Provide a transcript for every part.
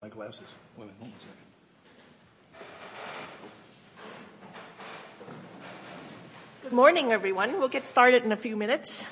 Good morning, everyone. We'll get started in a few minutes.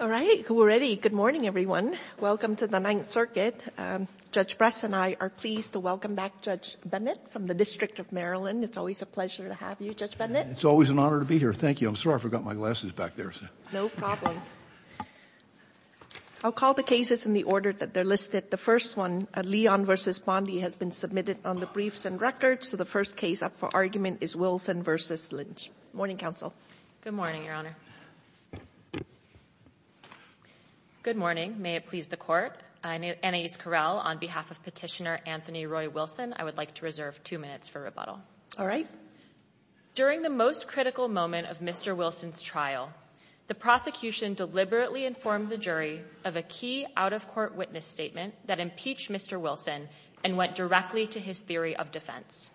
All right. We're ready. Good morning, everyone. Welcome to the Ninth Circuit. Judge Bress and I are pleased to welcome back Judge Bennett from the District of Maryland. It's always a pleasure to have you, Judge Bennett. It's always an honor to be here. Thank you. I'm sorry, I forgot my glasses back there. No problem. I'll call the cases in the order that they're listed. The first one, Leon v. Bondi, has been submitted on the briefs and records. So the first case up for argument is Wilson v. Lynch. Good morning, counsel. Good morning, Your Honor. Good morning. May it please the Court. Anais Corral, on behalf of Petitioner Anthony Roy Wilson, I would like to reserve two minutes for rebuttal. All right. During the most critical moment of Mr. Wilson's trial, the prosecution deliberately informed the jury of a key out-of-court witness statement that impeached Mr. Wilson and went directly to his theory of defense.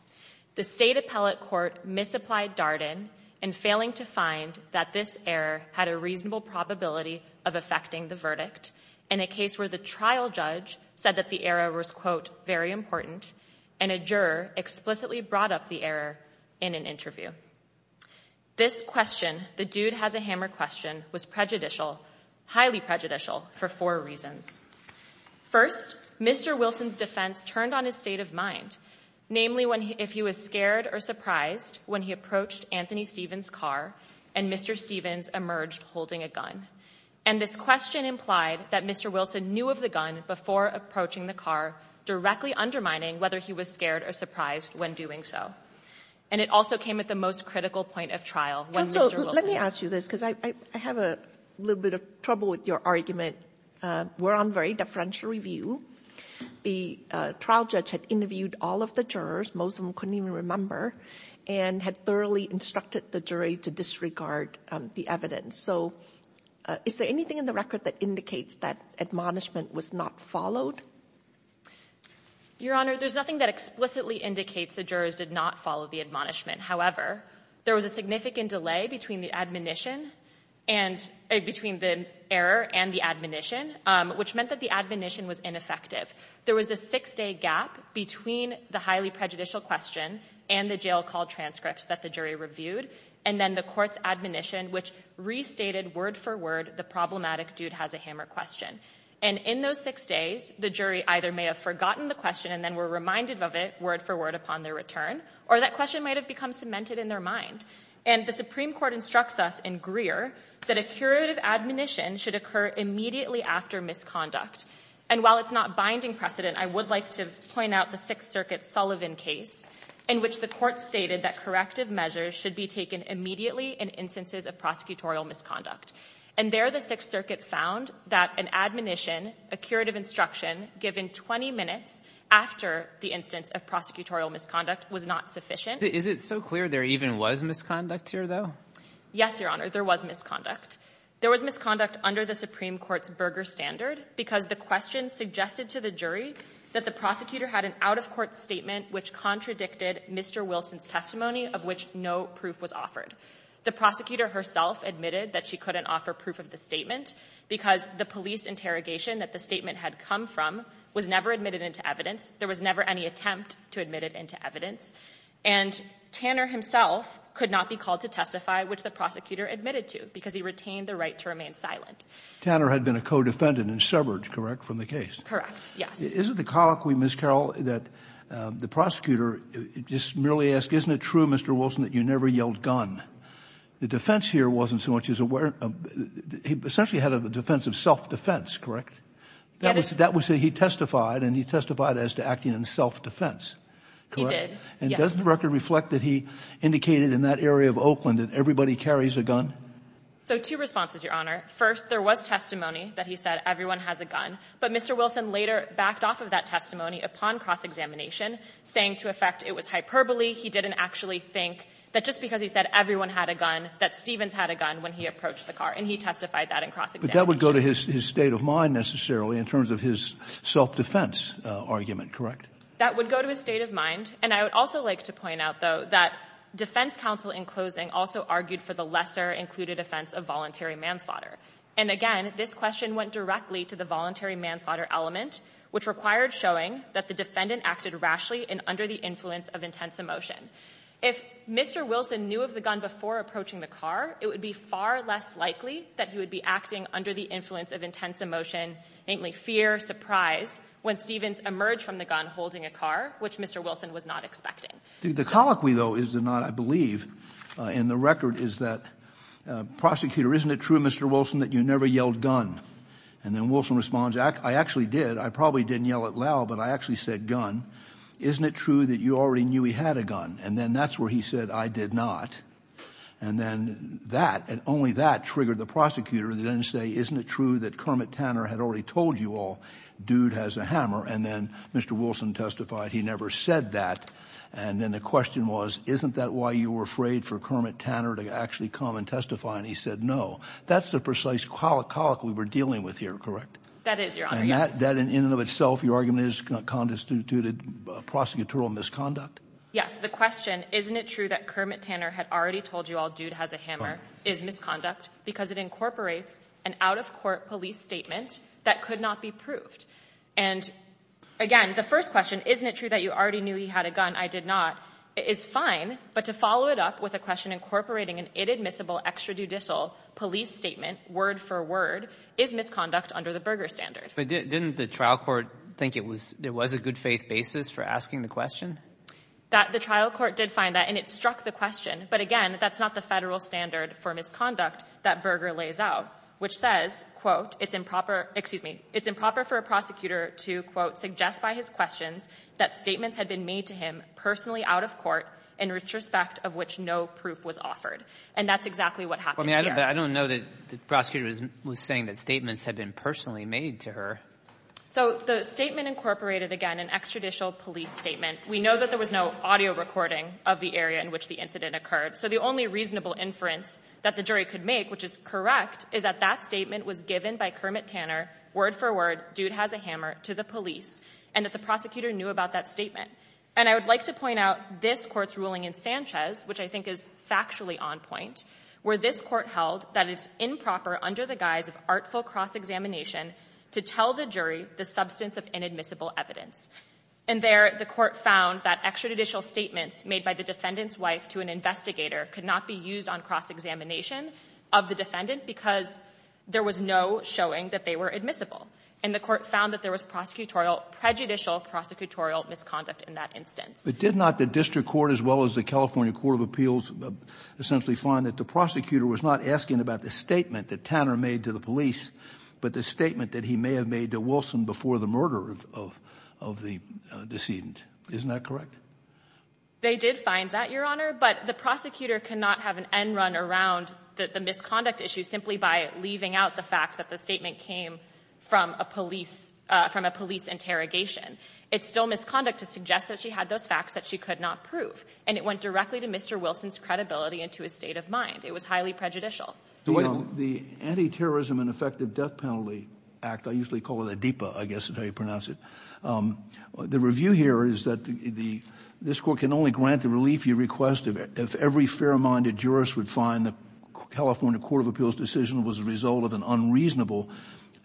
The State Appellate Court misapplied Darden in failing to find that this error had a reasonable probability of affecting the verdict in a case where the trial judge said that the error was, quote, very important, and a juror explicitly brought up the error in an interview. This question, the dude-has-a-hammer question, was prejudicial, highly prejudicial, for four reasons. First, Mr. Wilson's defense turned on his state of mind, namely if he was scared or surprised when he approached Anthony Stevens' car and Mr. Stevens emerged holding a gun. And this question implied that Mr. Wilson knew of the gun before approaching the car, directly undermining whether he was scared or surprised when doing so. And it also came at the most critical point of trial when Mr. Wilson – Let me ask you this, because I have a little bit of trouble with your argument. We're on very deferential review. The trial judge had interviewed all of the jurors, most of them couldn't even remember, and had thoroughly instructed the jury to disregard the evidence. So is there anything in the record that indicates that admonishment was not followed? Your Honor, there's nothing that explicitly indicates the jurors did not follow the admonishment. However, there was a significant delay between the admonition and – between the error and the admonition, which meant that the admonition was ineffective. There was a six-day gap between the highly prejudicial question and the jail call transcripts that the jury reviewed, and then the court's admonition, which restated word-for-word the problematic dude-has-a-hammer question. And in those six days, the jury either may have forgotten the question and then were reminded of it word-for-word upon their return, or that question may have become cemented in their mind. And the Supreme Court instructs us in Greer that a curative admonition should occur immediately after misconduct. And while it's not binding precedent, I would like to point out the Sixth Circuit Sullivan case in which the court stated that corrective measures should be taken immediately in instances of prosecutorial misconduct. And there the Sixth Circuit found that an admonition, a curative instruction, given 20 minutes after the instance of prosecutorial misconduct was not sufficient. Is it so clear there even was misconduct here, though? Yes, Your Honor, there was misconduct. There was misconduct under the Supreme Court's Berger standard because the question suggested to the jury that the prosecutor had an out-of-court statement which contradicted Mr. Wilson's testimony, of which no proof was offered. The prosecutor herself admitted that she couldn't offer proof of the statement because the police interrogation that the statement had come from was never admitted into evidence. There was never any attempt to admit it into evidence. And Tanner himself could not be called to testify, which the prosecutor admitted to, because he retained the right to remain silent. Tanner had been a co-defendant and severed, correct, from the case? Correct, yes. Is it the colloquy, Ms. Carroll, that the prosecutor just merely asked, isn't it true, Mr. Wilson, that you never yelled, gun? The defense here wasn't so much as aware of — he essentially had a defense of self-defense, correct? That was — he testified, and he testified as to acting in self-defense, correct? He did, yes. And does the record reflect that he indicated in that area of Oakland that everybody carries a gun? So, two responses, Your Honor. First, there was testimony that he said everyone has a gun, but Mr. Wilson later backed off of that testimony upon cross-examination, saying to the effect it was hyperbole. He didn't actually think that, just because he said everyone had a gun, that Stevens had a gun when he approached the car. And he testified that in cross-examination. But that would go to his — his state of mind, necessarily, in terms of his self-defense argument, correct? That would go to his state of mind. And I would also like to point out, though, that defense counsel, in closing, also argued for the lesser included offense of voluntary manslaughter. And again, this question went directly to the voluntary manslaughter element, which required showing that the defendant acted rashly and under the influence of intense emotion. If Mr. Wilson knew of the gun before approaching the car, it would be far less likely that he would be acting under the influence of intense emotion, namely fear, surprise, when Stevens emerged from the gun holding a car, which Mr. Wilson was not expecting. The colloquy, though, is not, I believe, in the record, is that, prosecutor, isn't it true, Mr. Wilson, that you never yelled gun? And then Wilson responds, I actually did. I probably didn't yell it loud, but I actually said gun. Isn't it true that you already knew he had a gun? And then that's where he said, I did not. And then that, and only that triggered the prosecutor to then say, isn't it true that Kermit Tanner had already told you all dude has a hammer? And then Mr. Wilson testified he never said that. And then the question was, isn't that why you were afraid for Kermit Tanner to actually come and testify? And he said no. That's the precise colloquy we're dealing with here, correct? That is, Your Honor, yes. And isn't that, in and of itself, your argument is, constitutes prosecutorial misconduct? Yes. The question, isn't it true that Kermit Tanner had already told you all dude has a hammer is misconduct because it incorporates an out-of-court police statement that could not be proved. And again, the first question, isn't it true that you already knew he had a gun? I did not, is fine, but to follow it up with a question incorporating an inadmissible extrajudicial police statement, word for word, is misconduct under the Berger standard. But didn't the trial court think it was there was a good faith basis for asking the question? That the trial court did find that and it struck the question. But again, that's not the federal standard for misconduct that Berger lays out, which says, quote, it's improper. Excuse me. It's improper for a prosecutor to, quote, suggest by his questions that statements had been made to him personally out of court in retrospect of which no proof was offered. And that's exactly what happened. I mean, I don't know that the prosecutor was saying that statements had been personally made to her. So the statement incorporated, again, an extrajudicial police statement. We know that there was no audio recording of the area in which the incident occurred. So the only reasonable inference that the jury could make, which is correct, is that that statement was given by Kermit Tanner, word for word, dude has a hammer, to the police, and that the prosecutor knew about that statement. And I would like to point out this court's ruling in Sanchez, which I think is factually on point, where this court held that it's improper under the guise of artful cross-examination to tell the jury the substance of inadmissible evidence. And there the court found that extrajudicial statements made by the defendant's wife to an investigator could not be used on cross-examination of the defendant because there was no showing that they were admissible. And the court found that there was prosecutorial, prejudicial prosecutorial misconduct in that instance. But did not the district court, as well as the California Court of Appeals, essentially find that the prosecutor was not asking about the statement that Tanner made to the police, but the statement that he may have made to Wilson before the murder of the decedent? Isn't that correct? They did find that, Your Honor. But the prosecutor cannot have an end run around the misconduct issue simply by leaving out the fact that the statement came from a police interrogation. It's still misconduct to suggest that she had those facts that she could not prove. And it went directly to Mr. Wilson's credibility and to his state of mind. It was highly prejudicial. The Anti-Terrorism and Effective Death Penalty Act, I usually call it a DIPA, I guess is how you pronounce it. The review here is that the, this court can only grant the relief you request if every fair-minded jurist would find the California Court of Appeals decision was a result of an unreasonable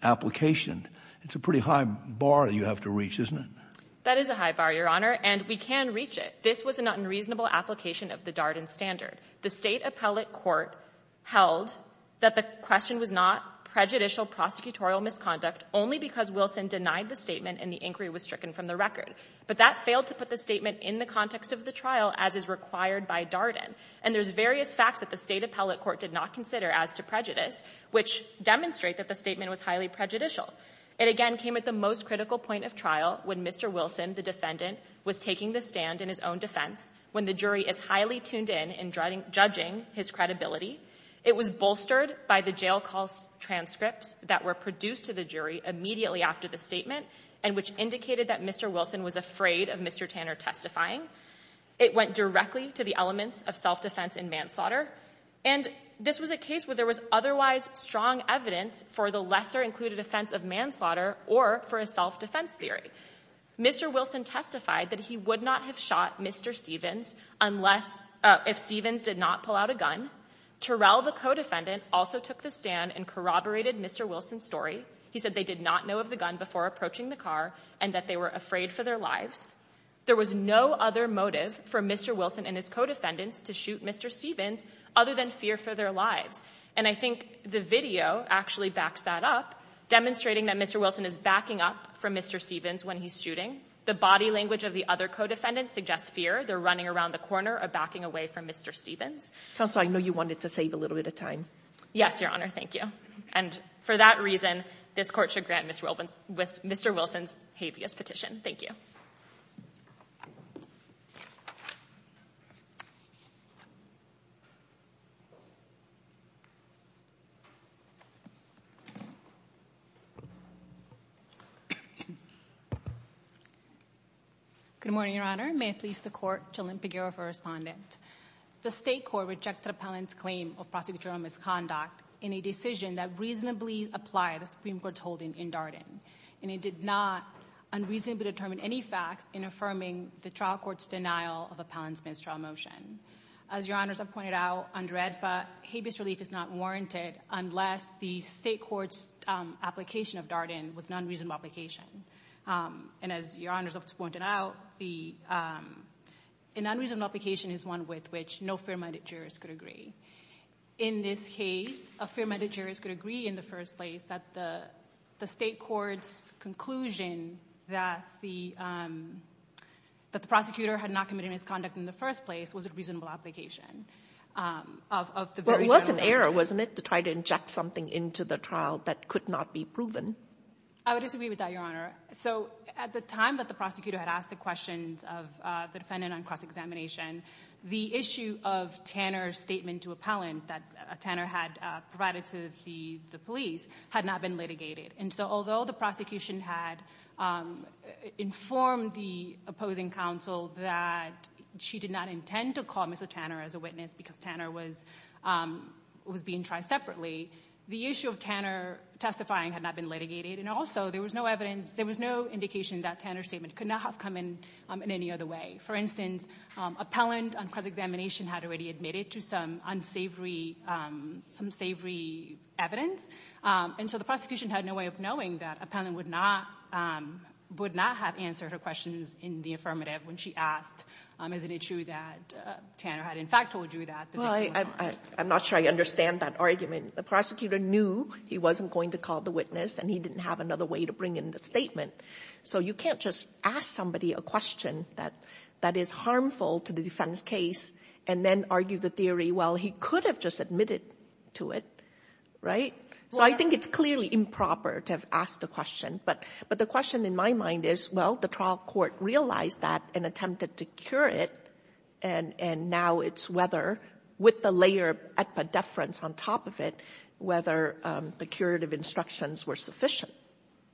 application. It's a pretty high bar you have to reach, isn't it? That is a high bar, Your Honor. And we can reach it. This was an unreasonable application of the Darden standard. The state appellate court held that the question was not prejudicial prosecutorial misconduct only because Wilson denied the statement and the inquiry was stricken from the record. But that failed to put the statement in the context of the trial as is required by Darden. And there's various facts that the state appellate court did not consider as to prejudice, which demonstrate that the statement was highly prejudicial. It again came at the most critical point of trial when Mr. Wilson, the defendant, was taking the stand in his own defense when the jury is highly tuned in in judging his credibility. It was bolstered by the jail calls transcripts that were produced to the jury immediately after the statement and which indicated that Mr. Wilson was afraid of Mr. Tanner testifying. It went directly to the elements of self-defense in manslaughter. And this was a case where there was otherwise strong evidence for the lesser included offense of manslaughter or for a self-defense theory. Mr. Wilson testified that he would not have shot Mr. Stevens unless if Stevens did not pull out a gun. Terrell, the co-defendant, also took the stand and corroborated Mr. Wilson's story. He said they did not know of the gun before approaching the car and that they were afraid for their lives. There was no other motive for Mr. Wilson and his co-defendants to shoot Mr. Stevens other than fear for their lives. And I think the video actually backs that up, demonstrating that Mr. Wilson is backing up for Mr. Stevens when he's shooting. The body language of the other co-defendants suggests fear. They're running around the corner or backing away from Mr. Stevens. Counsel, I know you wanted to save a little bit of time. Yes, Your Honor. Thank you. And for that reason, this court should grant Mr. Wilson's habeas petition. Thank you. Good morning, Your Honor. May it please the court, Jalynn Peguero for a respondent. The state court rejected Appellant's claim of prosecutorial misconduct in a decision that reasonably applied the Supreme Court's holding in Darden. And it did not unreasonably determine any facts in affirming the trial court's denial of Appellant Smith's trial motion. As Your Honors have pointed out, under AEDPA, habeas relief is not warranted unless the state court's application of Darden was an unreasonable application. And as Your Honors have pointed out, an unreasonable application is one with which no fair-minded jurist could agree. In this case, a fair-minded jurist could agree in the first place that the state court's conclusion that the prosecutor had not committed misconduct in the first place was a reasonable application. But it was an error, wasn't it, to try to inject something into the trial that could not be proven? I would disagree with that, Your Honor. So at the time that the prosecutor had asked the defendant on cross-examination, the issue of Tanner's statement to Appellant that Tanner had provided to the police had not been litigated. And so although the prosecution had informed the opposing counsel that she did not intend to call Mr. Tanner as a witness because Tanner was being tried separately, the issue of Tanner testifying had not been litigated. And also there was no evidence, there was no indication that Tanner's statement could not have come in in any other way. For instance, Appellant on cross-examination had already admitted to some unsavory evidence. And so the prosecution had no way of knowing that Appellant would not have answered her questions in the affirmative when she asked, isn't it true that Tanner had in fact told you that? Well, I'm not sure I understand that argument. The prosecutor knew he wasn't going to call the witness and he didn't have another way to bring in the statement. So you can't just ask somebody a question that is harmful to the defendant's case and then argue the theory, well, he could have just admitted to it, right? So I think it's clearly improper to have asked a question. But the question in my mind is, well, the trial court realized that and attempted to cure it. And now it's whether with the layer of at-the-deference on top of it, whether the instructions were sufficient.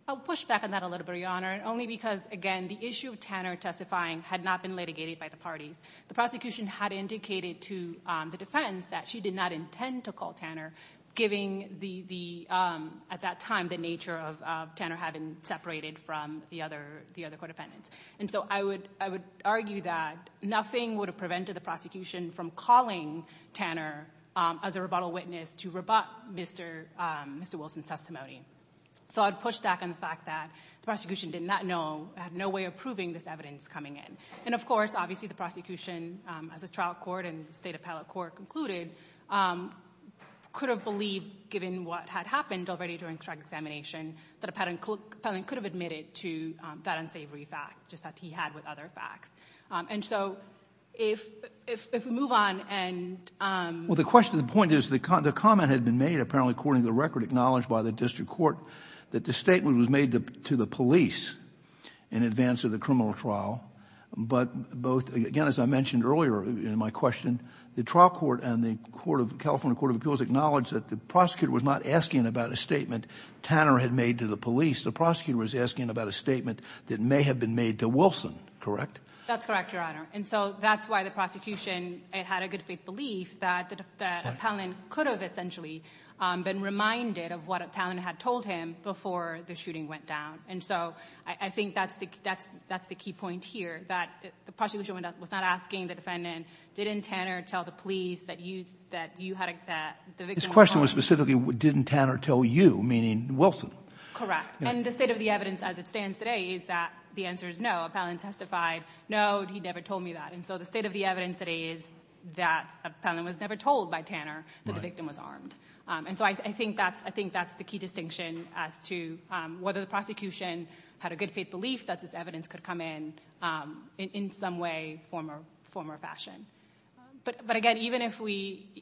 I'll push back on that a little bit, Your Honor, only because, again, the issue of Tanner testifying had not been litigated by the parties. The prosecution had indicated to the defense that she did not intend to call Tanner, given at that time the nature of Tanner having separated from the other court defendants. And so I would argue that nothing would have prevented the prosecution from calling Tanner as a rebuttal witness to rebut Mr. Wilson's testimony. So I'd push back on the fact that the prosecution did not know, had no way of proving this evidence coming in. And of course, obviously, the prosecution, as the trial court and the State Appellate Court concluded, could have believed, given what had happened already during drug examination, that a patent could have admitted to that unsavory fact, just as he had with other facts. And so if we move on and... Well, the question, the point is, the comment had been made, apparently according to the record, acknowledged by the district court, that the statement was made to the police in advance of the criminal trial. But both, again, as I mentioned earlier in my question, the trial court and the California Court of Appeals acknowledged that the prosecutor was not asking about a statement Tanner had made to the police. The prosecutor was asking about a statement that may have been made to Wilson, correct? That's correct, Your Honor. And so that's why the prosecution, it had a good faith belief that Appellant could have essentially been reminded of what Tanner had told him before the shooting went down. And so I think that's the key point here, that the prosecution was not asking the defendant, didn't Tanner tell the police that you had... His question was specifically, didn't Tanner tell you, meaning Wilson? Correct. And the state of the evidence as it stands today is that the answer is no. Appellant testified, no, he never told me that. And so the state of the evidence today is that Appellant was never told by Tanner that the victim was armed. And so I think that's the key distinction as to whether the prosecution had a good faith belief that this evidence could come in in some way, form or fashion. But again, even if we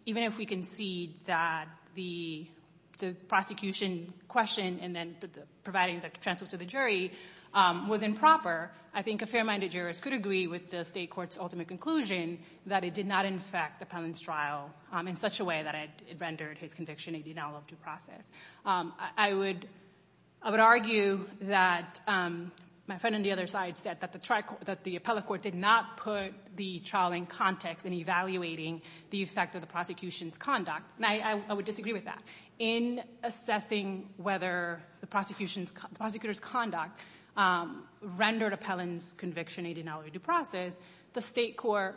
can see that the prosecution question, and then providing the transcript to the jury, was improper, I think a fair-minded jurist could agree with the state court's ultimate conclusion that it did not infect Appellant's trial in such a way that it rendered his conviction a denial of due process. I would argue that my friend on the other side said that the appellate court did not put the trial in context in evaluating the effect of the prosecution's conduct, and I would disagree with that. In assessing whether the prosecutor's conduct rendered Appellant's conviction a denial of due process, the state court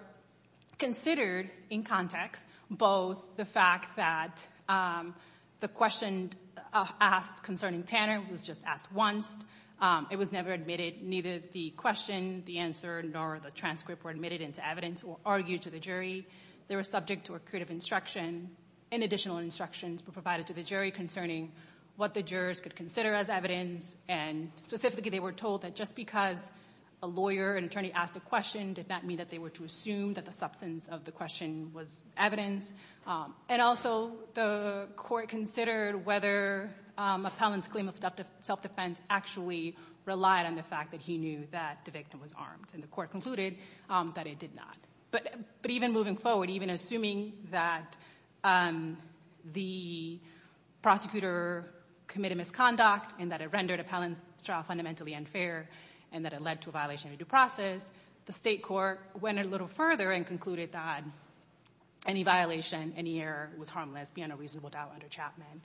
considered in context both the fact that the question asked concerning Tanner was just asked once. It was never admitted. Neither the question, the answer, nor the transcript were admitted into evidence or argued to the jury. They were subject to a creative instruction, and additional instructions were provided to the jury concerning what the jurors could consider as evidence, and specifically they were told that just because a lawyer and attorney asked a question did not mean that they were to assume that the substance of the question was evidence. And also the court considered whether Appellant's claim of self-defense actually relied on the fact that he knew that the victim was armed, and the court concluded that it did not. But even moving forward, even assuming that the prosecutor committed misconduct, and that it rendered Appellant's trial fundamentally unfair, and that it led to a violation of due process, the state court went a little further and concluded that any violation, any error, was harmless beyond a reasonable doubt under Chapman.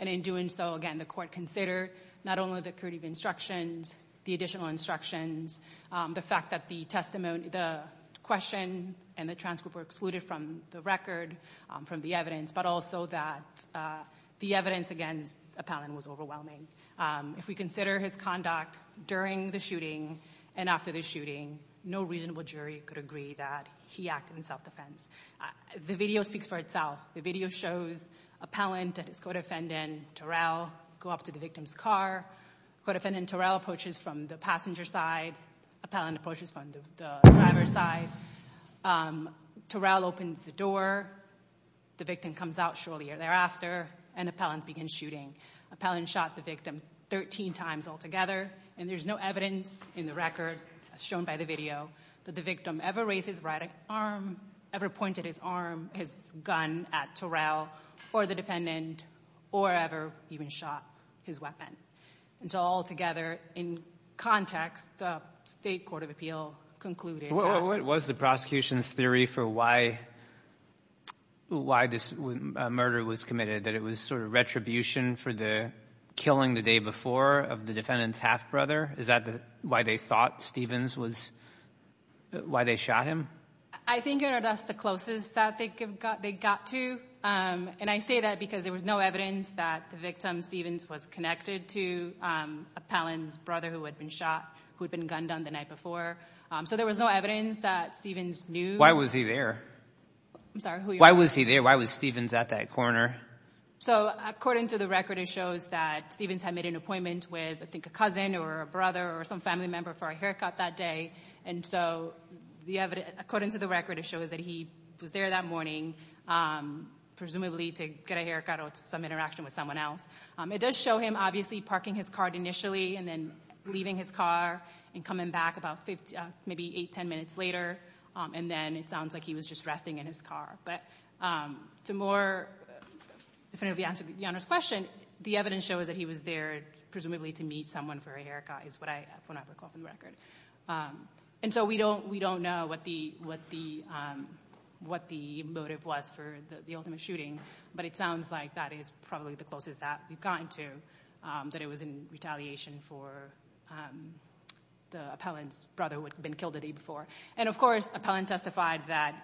And in doing so, again, the court considered not only the creative instructions, the additional instructions, the fact that the question and the transcript were excluded from the record, from the evidence, but also that the evidence against Appellant was overwhelming. If we consider his conduct during the shooting and after the shooting, no reasonable jury could agree that he acted in self-defense. The video speaks for itself. The video shows Appellant and his car. Co-defendant Torell approaches from the passenger side. Appellant approaches from the driver's side. Torell opens the door. The victim comes out shortly thereafter, and Appellant begins shooting. Appellant shot the victim 13 times altogether, and there's no evidence in the record, as shown by the video, that the victim ever raised his right arm, ever pointed his arm, his gun at Torell or the defendant, or ever even shot his weapon. And so altogether, in context, the State Court of Appeal concluded that— What was the prosecution's theory for why this murder was committed, that it was sort of retribution for the killing the day before of the defendant's half-brother? Is that why they thought Stevens was—why they shot him? I think it was the closest that they got to, and I say that because there was no evidence that the victim, Stevens, was connected to Appellant's brother who had been shot, who had been gunned on the night before. So there was no evidence that Stevens knew— Why was he there? I'm sorry? Why was he there? Why was Stevens at that corner? So according to the record, it shows that Stevens had made an appointment with, I think, a cousin or a brother or some family member for a haircut that day. And so the evidence—according to the record, it shows that he was there that morning, presumably to get a haircut or some interaction with someone else. It does show him, obviously, parking his car initially and then leaving his car and coming back about maybe 8, 10 minutes later. And then it sounds like he was just resting in his car. But to more definitively answer the honest question, the evidence shows that he was there presumably to meet someone for a haircut is what I recall from the record. And so we don't know what the motive was for the ultimate shooting, but it sounds like that is probably the closest that we've gotten to, that it was in retaliation for the Appellant's brother who had been killed the day before. And of course, Appellant testified that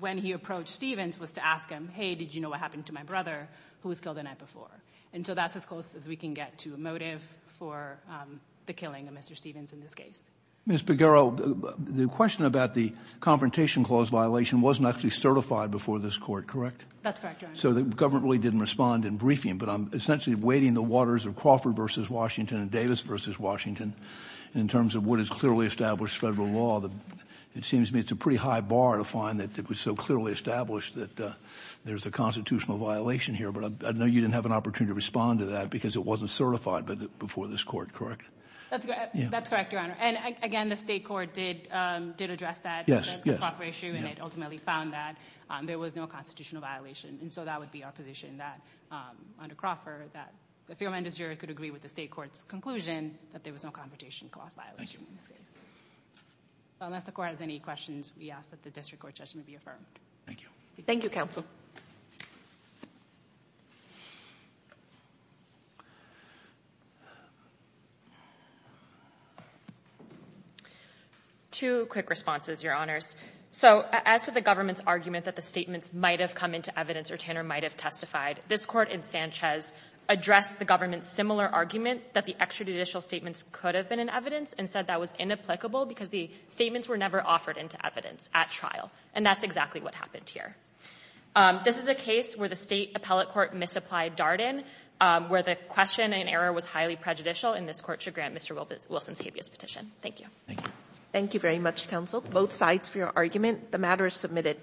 when he approached Stevens was to ask him, hey, did you know what happened to my brother who was killed the night before? And so that's close as we can get to a motive for the killing of Mr. Stevens in this case. Ms. Baghero, the question about the Confrontation Clause violation wasn't actually certified before this court, correct? That's correct, Your Honor. So the government really didn't respond in briefing, but I'm essentially wading the waters of Crawford v. Washington and Davis v. Washington in terms of what is clearly established federal law. It seems to me it's a pretty high bar to find that it was so clearly established that there's a constitutional violation here, but I know you didn't have an opportunity to respond to that because it wasn't certified before this court, correct? That's correct, Your Honor. And again, the state court did address that. Yes, yes. The Crawford issue, and it ultimately found that there was no constitutional violation. And so that would be our position that under Crawford, that if your amendments juror could agree with the state court's conclusion that there was no Confrontation Clause violation in this case. Unless the court has any questions, we ask that the district court judgment be affirmed. Thank you. Thank you, counsel. Two quick responses, Your Honors. So as to the government's argument that the statements might have come into evidence or Tanner might have testified, this court in Sanchez addressed the government's similar argument that the extrajudicial statements could have been in evidence and said that was inapplicable because the statements were never offered into evidence at trial. And that's exactly what happened here. This is a case where the state appellate court misapplied Darden, where the question and error was highly prejudicial, and this court should grant Mr. Wilson's habeas petition. Thank you. Thank you. Thank you very much, counsel. Both sides for your argument. The matter is submitted.